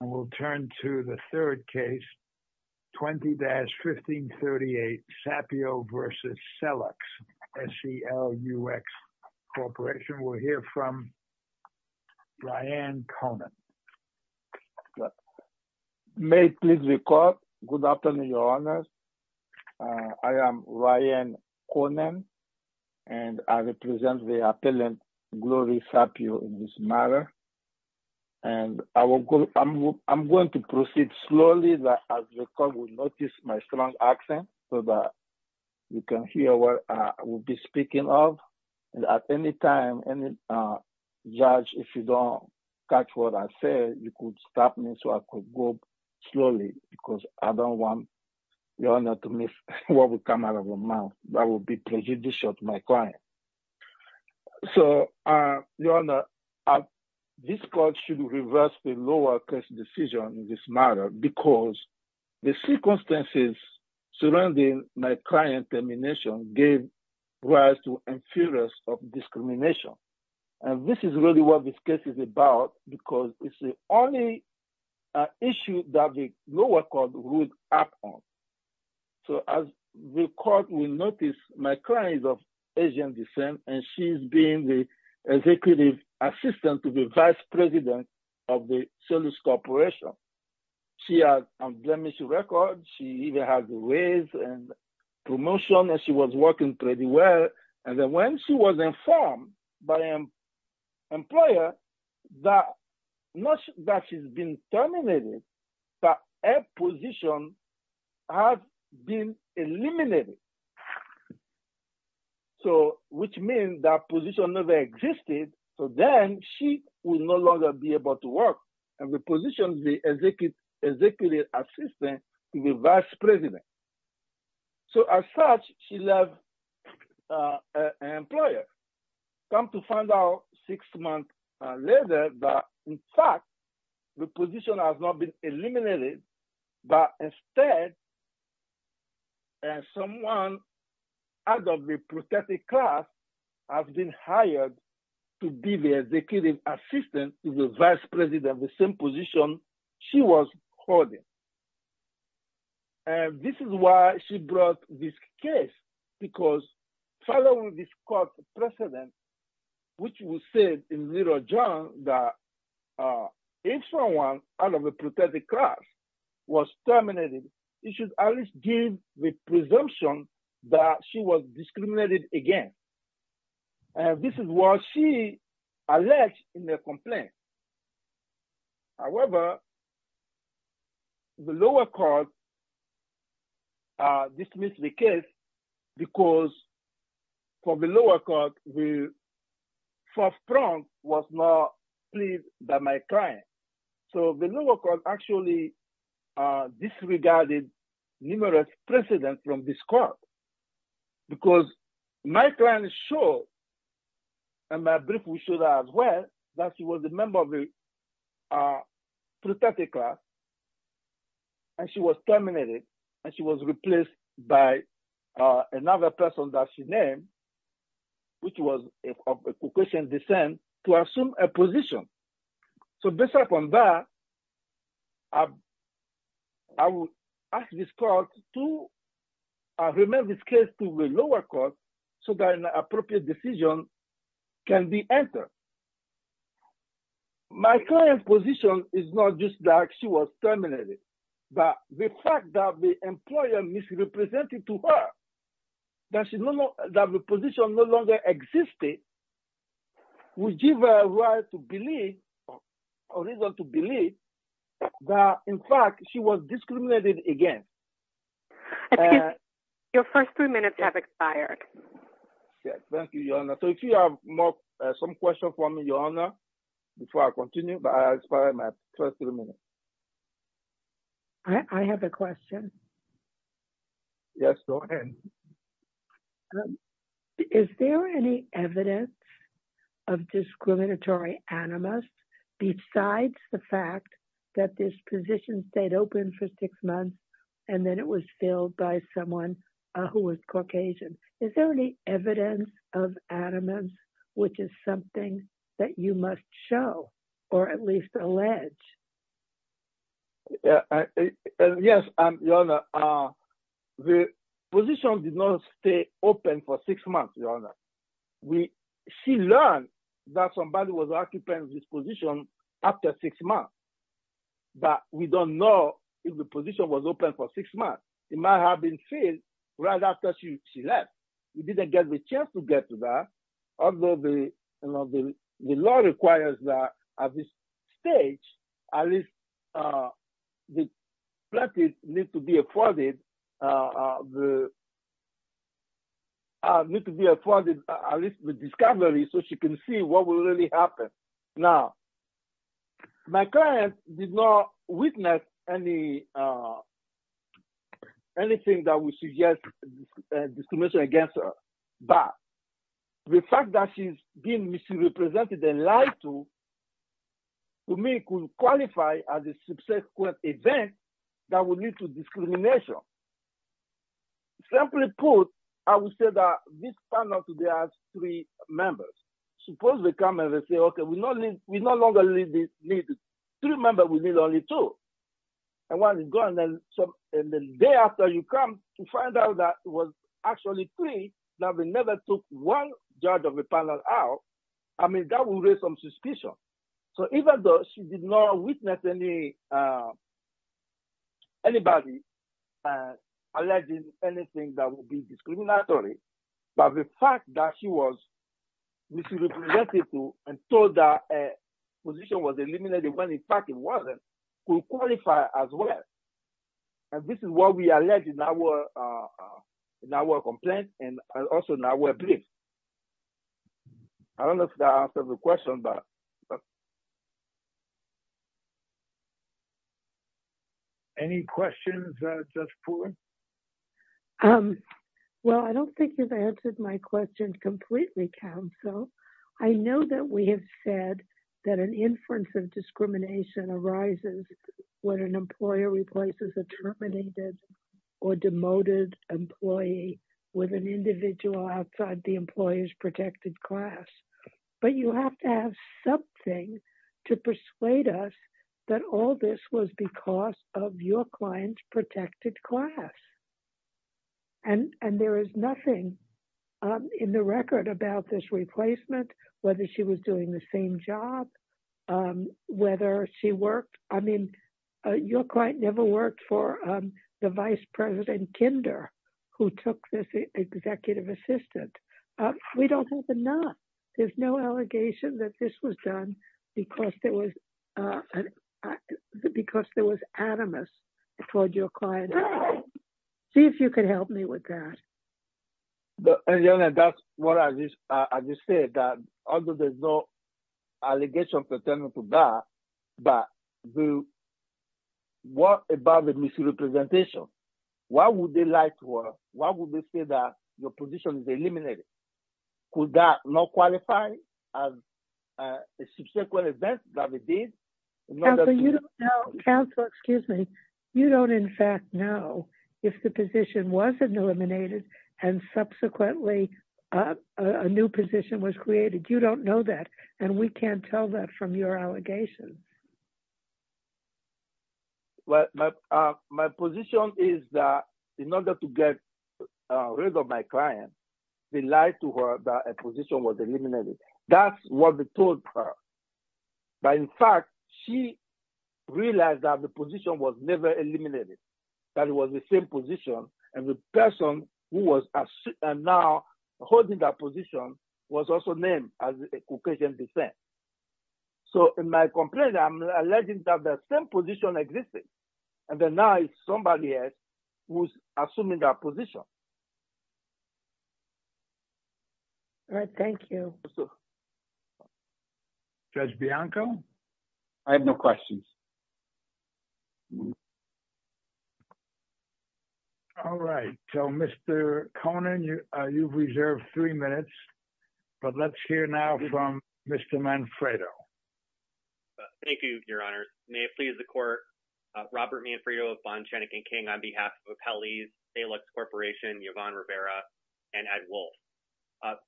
and we'll turn to the third case 20-1538 Sapio v. Selux, S-E-L-U-X Corporation. We'll hear from Ryan Conan. May I please record? Good afternoon, your honors. I am Ryan Conan and I represent the I'm going to proceed slowly so that you can hear what I will be speaking of. At any time, judge, if you don't catch what I say, you could stop me so I could go slowly because I don't want your honor to miss what will come out of your mouth. That would be prejudicial to my client. So, your honor, this court should reverse the lower case decision in this matter because the circumstances surrounding my client termination gave rise to inferiority of discrimination. This is really what this case is about because it's the only issue that the lower court would act on. So, as the court will notice, my client is of Asian descent and she's been the executive assistant to the vice president of the Selux Corporation. She has a blemish record. She even has a raise and promotion and she was working pretty well and then when she was informed by an employer, her position has been eliminated. So, which means that position never existed. So, then she will no longer be able to work and the position will be executive assistant to the vice president. So, as such, she left an employer. Come to find out six months later that, in fact, the position has not been eliminated but instead someone out of the protected class has been hired to be the executive assistant to the vice president, the same position she was holding. And this is why she brought this case because following this court precedent, which was said in Little John, that if someone out of the protected class was terminated, it should at least give the presumption that she was discriminated against. This is what she alleged in the complaint. However, the lower court dismissed the case because the lower court was not pleased by my client. So, the lower court actually disregarded numerous precedents from this court because my client showed and my brief will show that as well, that she was a member of the protected class and she was terminated and she was replaced by another person that she named, which was of Caucasian descent, to assume a position. So, based upon that, I will ask this court to remain this case to the lower court so that an appropriate decision can be entered. My client's position is not just that she was terminated, but the fact that the employer misrepresented to her that the position no longer existed would give her a reason to believe that in fact she was discriminated against. Your first three minutes have expired. Yes, thank you, Your Honor. So, if you have some questions for me, Your Honor, before I continue, but I expired my first three minutes. I have a question. Yes, go ahead. Is there any evidence of discriminatory animus besides the fact that this position stayed open for six months and then it was filled by someone who was Caucasian? Is there any evidence of animus which is something that you must show or at least allege? Yes, Your Honor. The position did not stay open for six months, Your Honor. She learned that the position was open for six months. It might have been filled right after she left. We didn't get the chance to get to that. Although the law requires that at this stage, at least the plaintiff needs to be afforded at least the discovery so she can see what will really happen. Now, my client did not witness anything that would suggest discrimination against her. But the fact that she's been misrepresented and lied to, to me could qualify as a subsequent event that would lead to discrimination. Simply put, I would say that this panel today has three members. Suppose they come and they say, okay, we no longer need three members, we need only two. And the day after you come to find out that it was actually three, that we never took one judge of the panel out, I mean, that would raise some suspicion. So even though she did not witness anybody alleging anything that would be discriminatory, but the fact that she was misrepresented and told that a position was eliminated when in fact it wasn't, could qualify as well. And this is what we allege in our complaint and also in our briefs. I don't know if that answers the question, but it does. Any questions, Judge Poulin? Well, I don't think you've answered my question completely, counsel. I know that we have said that an inference of discrimination arises when an employer replaces a terminated or demoted employee with an individual outside the employer's protected class. But you have to have something to persuade us that all this was because of your client's protected class. And there is nothing in the record about this replacement, whether she was doing the same job, whether she worked, I mean, your client never worked for the Vice President Kinder, who took this executive assistant. We don't have enough. There's no allegation that this was done because there was animus toward your client. See if you could help me with that. And that's what I just said, that although there's no allegation pertaining to that, but what about the misrepresentation? Why would they lie to her? Why would they say that your position is eliminated? Could that not qualify as a subsequent event that they did? Counsel, excuse me. You don't, in fact, know if the position wasn't eliminated and subsequently a new position was created. You don't know that. And we can't tell that from your allegations. But my position is that in order to get rid of my client, they lied to her that a position was eliminated. That's what they told her. But in fact, she realized that the position was never eliminated, that it was the same position. And the person who was now holding that position was also named as a Caucasian descent. So in my complaint, I'm alleging that the same position existed. And then now it's somebody else who's assuming that position. All right. Thank you. Judge Bianco. I have no questions. All right. So, Mr. Conan, you've reserved three minutes. But let's hear now from Mr. Manfredo. Thank you, Your Honor. May it please the court. Robert Manfredo of Bonn, Shenick and King on behalf of Hallease, Salix Corporation, Yvonne Rivera, and Ed Wolf.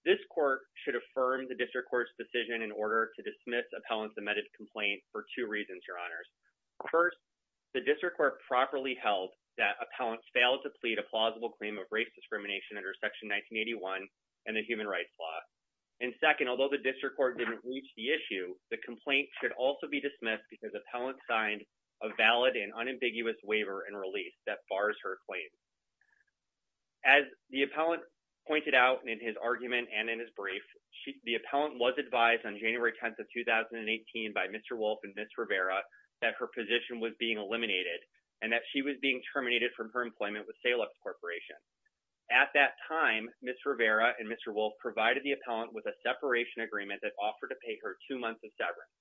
This court should affirm the district court's decision in order to dismiss appellant's complaint for two reasons, Your Honors. First, the district court properly held that appellant failed to plead a plausible claim of race discrimination under Section 1981 and the human rights law. And second, although the district court didn't reach the issue, the complaint should also be dismissed because appellant signed a valid and unambiguous waiver and release that bars her claim. As the appellant pointed out in his argument and in his brief, the appellant was advised on January 10th of 2018 by Mr. Wolf and Ms. Rivera that her position was being eliminated and that she was being terminated from her employment with Salix Corporation. At that time, Ms. Rivera and Mr. Wolf provided the appellant with a separation agreement that offered to pay her two months of severance.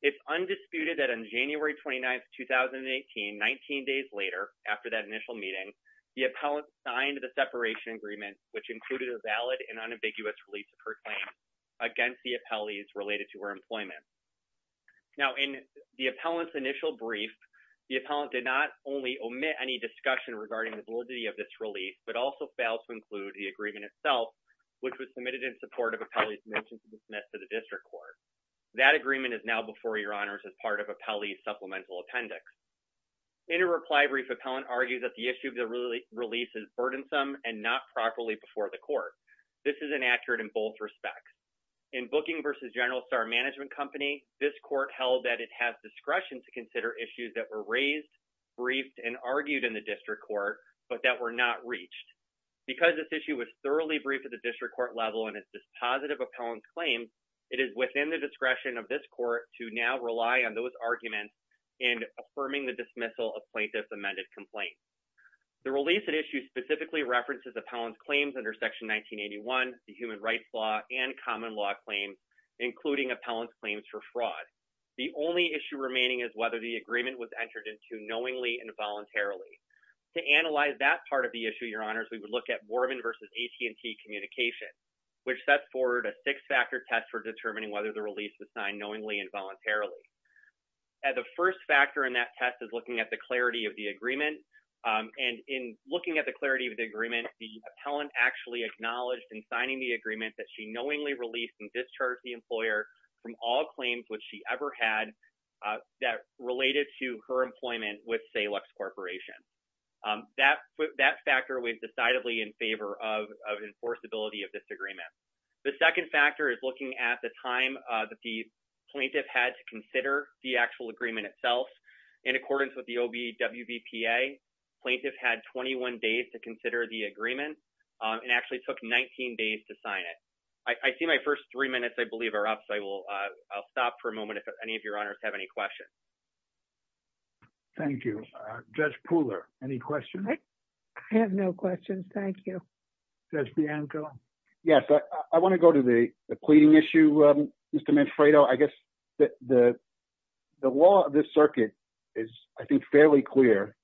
It's undisputed that on January 29th, 2018, 19 days later, after that initial meeting, the appellant signed the separation agreement, which included a valid and unambiguous release of her claim against the appellees related to her employment. Now, in the appellant's initial brief, the appellant did not only omit any discussion regarding the validity of this release, but also failed to include the agreement itself, which was submitted in support of appellee's mention to be dismissed to the district court. That agreement is now before Your Honors as part of appellee's supplemental appendix. In a reply brief, appellant argued that the issue of the release is burdensome and not properly before the court. This is inaccurate in both respects. In Booking v. General Star Management Company, this court held that it has discretion to consider issues that were raised, briefed, and argued in the district court, but that were not reached. Because this issue was thoroughly briefed at the district court level and it's a positive appellant claim, it is within the discretion of this court to now rely on those arguments in affirming the dismissal of plaintiff's amended complaint. The release at issue specifically references appellant's claims under Section 1981, the human rights law, and common law claims, including appellant's claims for fraud. The only issue remaining is whether the agreement was entered into knowingly and voluntarily. To analyze that part of the issue, Your Honors, we would look at Morven v. AT&T Communications, which set forward a six-factor test for determining whether the release was signed knowingly and voluntarily. As a first factor in that test is looking at the clarity of the agreement. And in looking at the clarity of the agreement, the appellant actually acknowledged in signing the agreement that she knowingly released and discharged the employer from all claims which she ever had that related to her employment with Salux Corporation. That factor was decidedly in favor of enforceability of this agreement. The second factor is looking at the time that the plaintiff had to consider the actual agreement itself. In accordance with the OBWPA, plaintiff had 21 days to consider the agreement and actually took 19 days to sign it. I see my first three minutes, I believe, are up, so I'll stop for a moment if any of Your Honors have any questions. Thank you. Judge Pooler, any questions? I have no questions. Thank you. Judge Bianco? Yes, I want to go to the pleading issue, Mr. Manfredo. I guess the law of this circuit is, I think, fairly clear.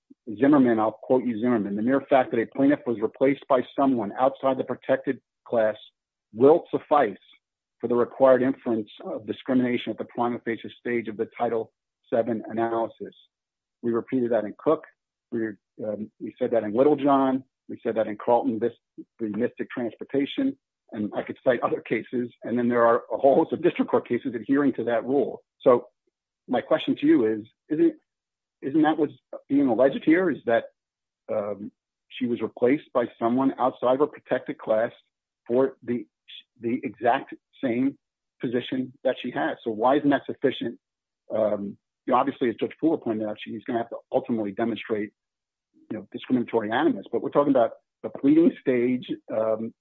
Zimmerman, I'll quote you Zimmerman, the mere fact that a plaintiff was replaced by someone outside the protected class will suffice for the required inference of discrimination at the prima facie stage of the Title VII analysis. We repeated that in Cook. We said that in Littlejohn. We said that in Carlton, the mystic transportation, and I could cite other cases, and then there are a whole host of district court cases adhering to that rule. So my question to you is, isn't that what's being alleged here is that she was replaced by someone outside of a protected class for the exact same position that she has? So why isn't that sufficient? Obviously, as Judge Pooler pointed out, she's going to have to ultimately demonstrate discriminatory animus, but we're talking about the pleading stage,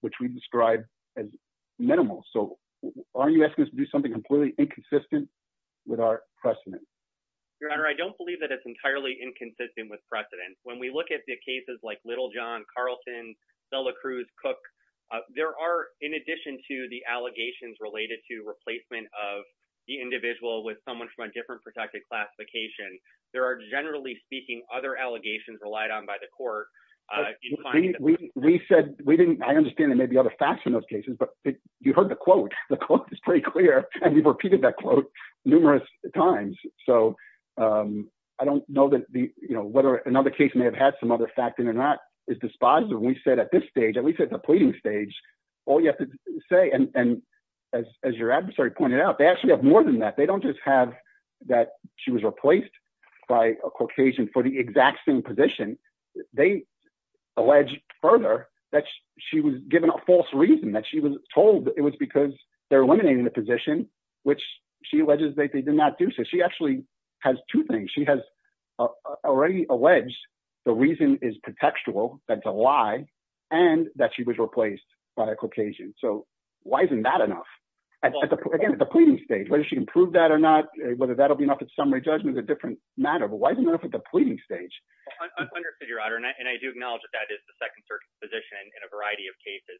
which we describe as minimal. So are you asking us to do something completely inconsistent with our precedent? Your Honor, I don't believe that it's entirely inconsistent with precedent. When we look at the cases like Littlejohn, Carlton, Sella Cruz, Cook, there are, in addition to the allegations related to replacement of the individual with someone from a different protected classification, there are, generally speaking, other allegations relied on by the court. We said, I understand there may be other facts in those cases, but you heard the quote. The quote is pretty clear, and we've repeated that quote numerous times. So I don't know whether another case may have had some other fact in it or not. It's dispositive. We said at this stage, all you have to say, and as your adversary pointed out, they actually have more than that. They don't just have that she was replaced by a Caucasian for the exact same position. They allege further that she was given a false reason, that she was told it was because they're eliminating the position, which she alleges that they did not do. So she actually has two things. She has already alleged the reason is contextual, that's a lie, and that she was replaced by a Caucasian. So why isn't that enough? Again, at the pleading stage, whether she can prove that or not, whether that'll be enough at summary judgment is a different matter, but why isn't it enough at the pleading stage? I understood your honor, and I do acknowledge that that is the second circuit's position in a variety of cases.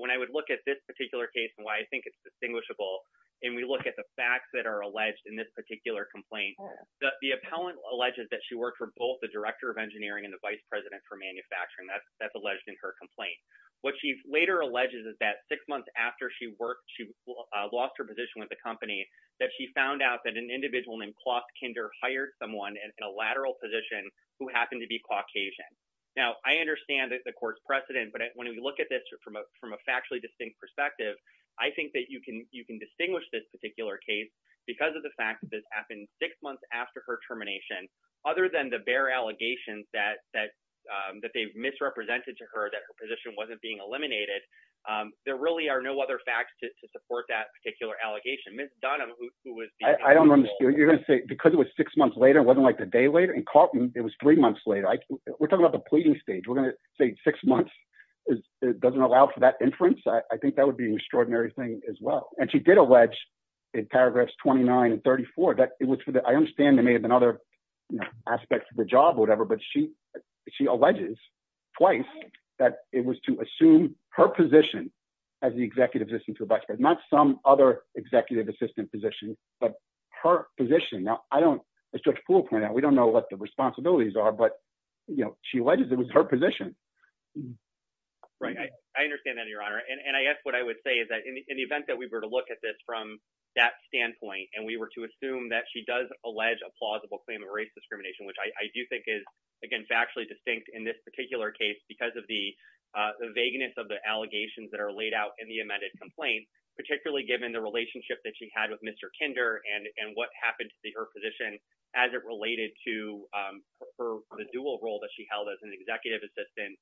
When I would look at this particular case and why I think it's distinguishable, and we look at the facts that are alleged in this particular complaint, the appellant alleges that she worked for both the Director of Engineering and the Vice President for Manufacturing. That's alleged in her complaint. What she later alleges is that six months after she lost her position with the company, that she found out that an individual named Klaus Kinder hired someone in a lateral position who happened to be Caucasian. Now, I understand that the court's precedent, but when we look at this from a factually distinct perspective, I think that you can distinguish this particular case because of the fact that in six months after her termination, other than the bare allegations that they've misrepresented to her that her position wasn't being eliminated, there really are no other facts to support that particular allegation. Ms. Dunham, who was- I don't understand. You're going to say because it was six months later, it wasn't like the day later? In Carlton, it was three months later. We're talking about the pleading stage. We're going to say six months doesn't allow for that inference? I think that would be an extraordinary thing as well. She did allege in paragraphs 29 and 34 that it was for the- I understand there may have been other aspects of the job or whatever, but she alleges twice that it was to assume her position as the executive assistant to the vice president. Not some other executive assistant position, but her position. Now, I don't- as Judge Poole pointed out, we don't know what the responsibilities are, but she alleges it was her position. I understand that, Your Honor. I guess what I would say is in the event that we were to look at this from that standpoint and we were to assume that she does allege a plausible claim of race discrimination, which I do think is, again, factually distinct in this particular case because of the vagueness of the allegations that are laid out in the amended complaint, particularly given the relationship that she had with Mr. Kinder and what happened to her position as it related to the dual role that she held as an executive assistant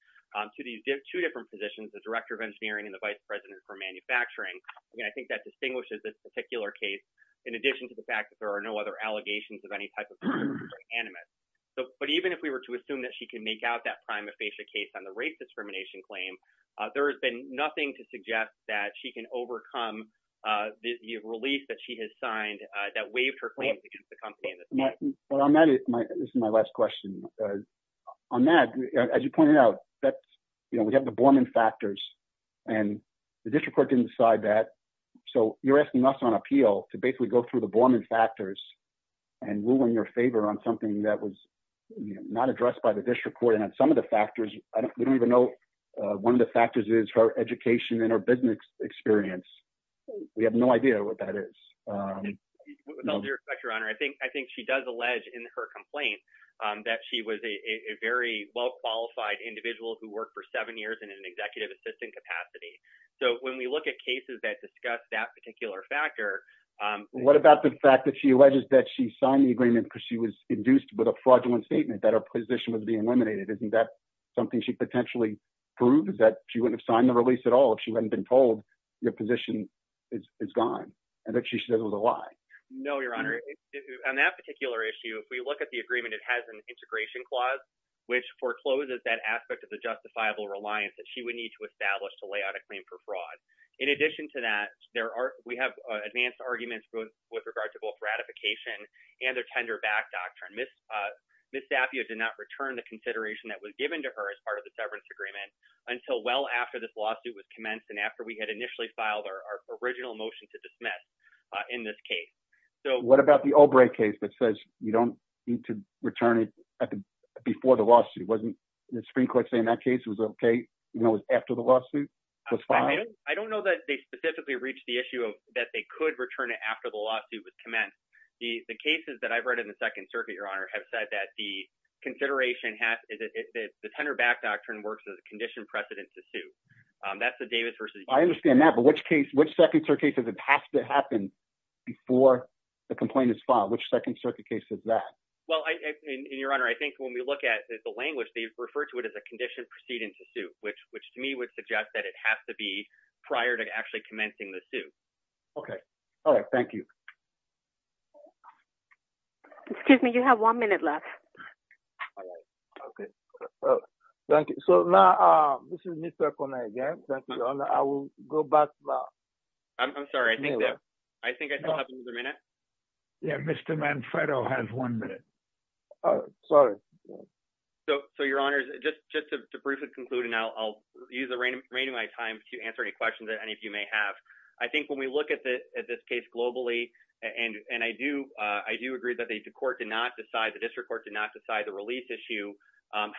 to these two different positions, the director of engineering and the vice president for manufacturing. Again, I think that distinguishes this particular case in addition to the fact that there are no other allegations of any type of race discrimination. But even if we were to assume that she can make out that prime aphasia case on the race discrimination claim, there has been nothing to suggest that she can overcome the release that she has signed that waived her claims against the company in this case. This is my last question. On that, as you pointed out, we have the Borman factors and the district court didn't decide that. So you're asking us on appeal to basically go through the Borman factors and rule in your favor on something that was not addressed by the district court. And on some of the factors, we don't even know one of the factors is her education and her business experience. We have no idea what that is. With all due respect, your honor, I think she does allege in her complaint that she was a very well-qualified individual who worked for seven years in an executive assistant capacity. So when we look at cases that discuss that particular factor, what about the fact that she alleges that she signed the agreement because she was induced with a fraudulent statement that her position was being eliminated? Isn't that something she potentially proves that she wouldn't have signed the release at all if she hadn't been told your position is gone and that she said it was a lie? No, your honor. On that particular issue, if we look at the agreement, it has an integration clause, which forecloses that aspect of the justifiable reliance that she would need to establish to lay out a claim for fraud. In addition to that, we have advanced arguments with regard to both ratification and their tender back doctrine. Ms. Zappia did not return the consideration that was given to her as part of the severance agreement until well after this lawsuit was commenced and after we had initially filed our original motion to dismiss in this case. So what about the O'Brien case that says you don't need to return it before the lawsuit? Wasn't the Supreme Court saying that case was okay after the lawsuit? I don't know that they specifically reached the issue of that they could return it after the lawsuit was commenced. The cases that I've read in the second circuit, your honor, have said that the consideration has the tender back doctrine works as a condition precedent to that's the Davis versus. I understand that. But which case, which second circuit case is it has to happen before the complaint is filed? Which second circuit case is that? Well, in your honor, I think when we look at the language, they refer to it as a condition precedent to suit, which to me would suggest that it has to be prior to actually commencing the suit. Okay. All right. Thank you. Excuse me. You have one minute left. All right. Okay. Thank you. So now this is Mr. Kona again. Thank you, your honor. I will go back now. I'm sorry. I think that I think I still have another minute. Yeah. Mr. Manfredo has one minute. Oh, sorry. So, so your honors, just, just to briefly conclude, and I'll, I'll use the remaining time to answer any questions that any of you may have. I think when we look at the, at this case globally, and, and I do I do agree that the court did not decide, the district court did not decide the release issue.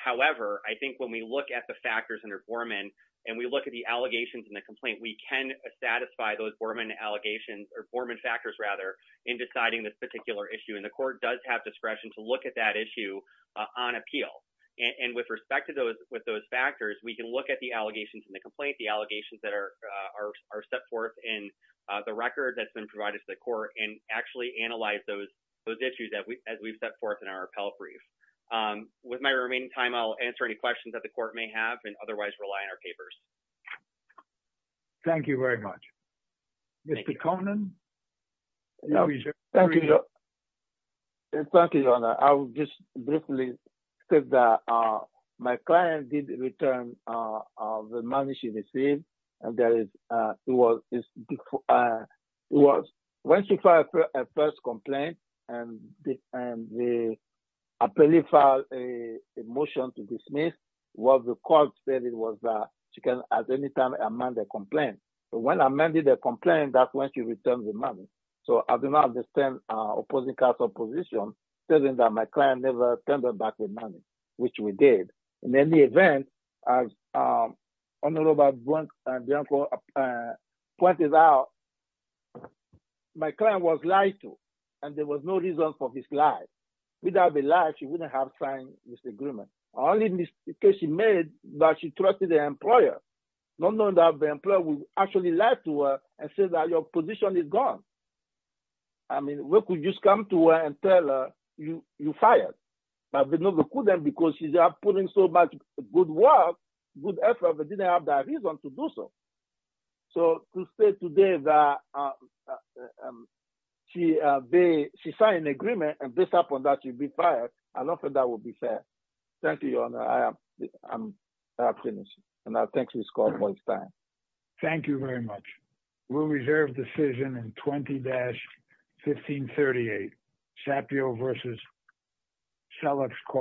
However, I think when we look at the factors under Borman and we look at the allegations in the complaint, we can satisfy those Borman allegations or Borman factors rather in deciding this particular issue. And the court does have discretion to look at that issue on appeal. And with respect to those, with those factors, we can look at the allegations in the complaint, the allegations that are, are, are set forth in the record that's been provided to the court and actually analyze those, those issues that we, we've set forth in our appellate brief. With my remaining time, I'll answer any questions that the court may have and otherwise rely on our papers. Thank you very much. Mr. Conlon. Thank you, your honor. I will just briefly state that my client did return the money she received and there is, it was, it was, when she filed her first complaint and the, and the appellate filed a motion to dismiss, what the court stated was that she can at any time amend the complaint. But when I amended the complaint, that's when she returned the money. So I do not understand opposing counsel position, stating that my client never returned back the money, which we did. In any event, as Honorable Brunk and Bianco pointed out, my client was lied to, and there was no reason for this lie. Without the lie, she wouldn't have signed this agreement. Only in this case, she made that she trusted the employer, not knowing that the employer would actually lie to her and say that your position is gone. I mean, we could just come to her and tell her you fired, but we couldn't because she's putting so much good work, good effort, but didn't have that reason to do so. So to say today that she signed an agreement and based upon that she'd be fired, I don't think that would be fair. Thank you, your honor. And I thank you, Mr. Conlon, for your time. Thank you very much. We'll reserve decision in 20-1538. Sapio versus Selleck's Court.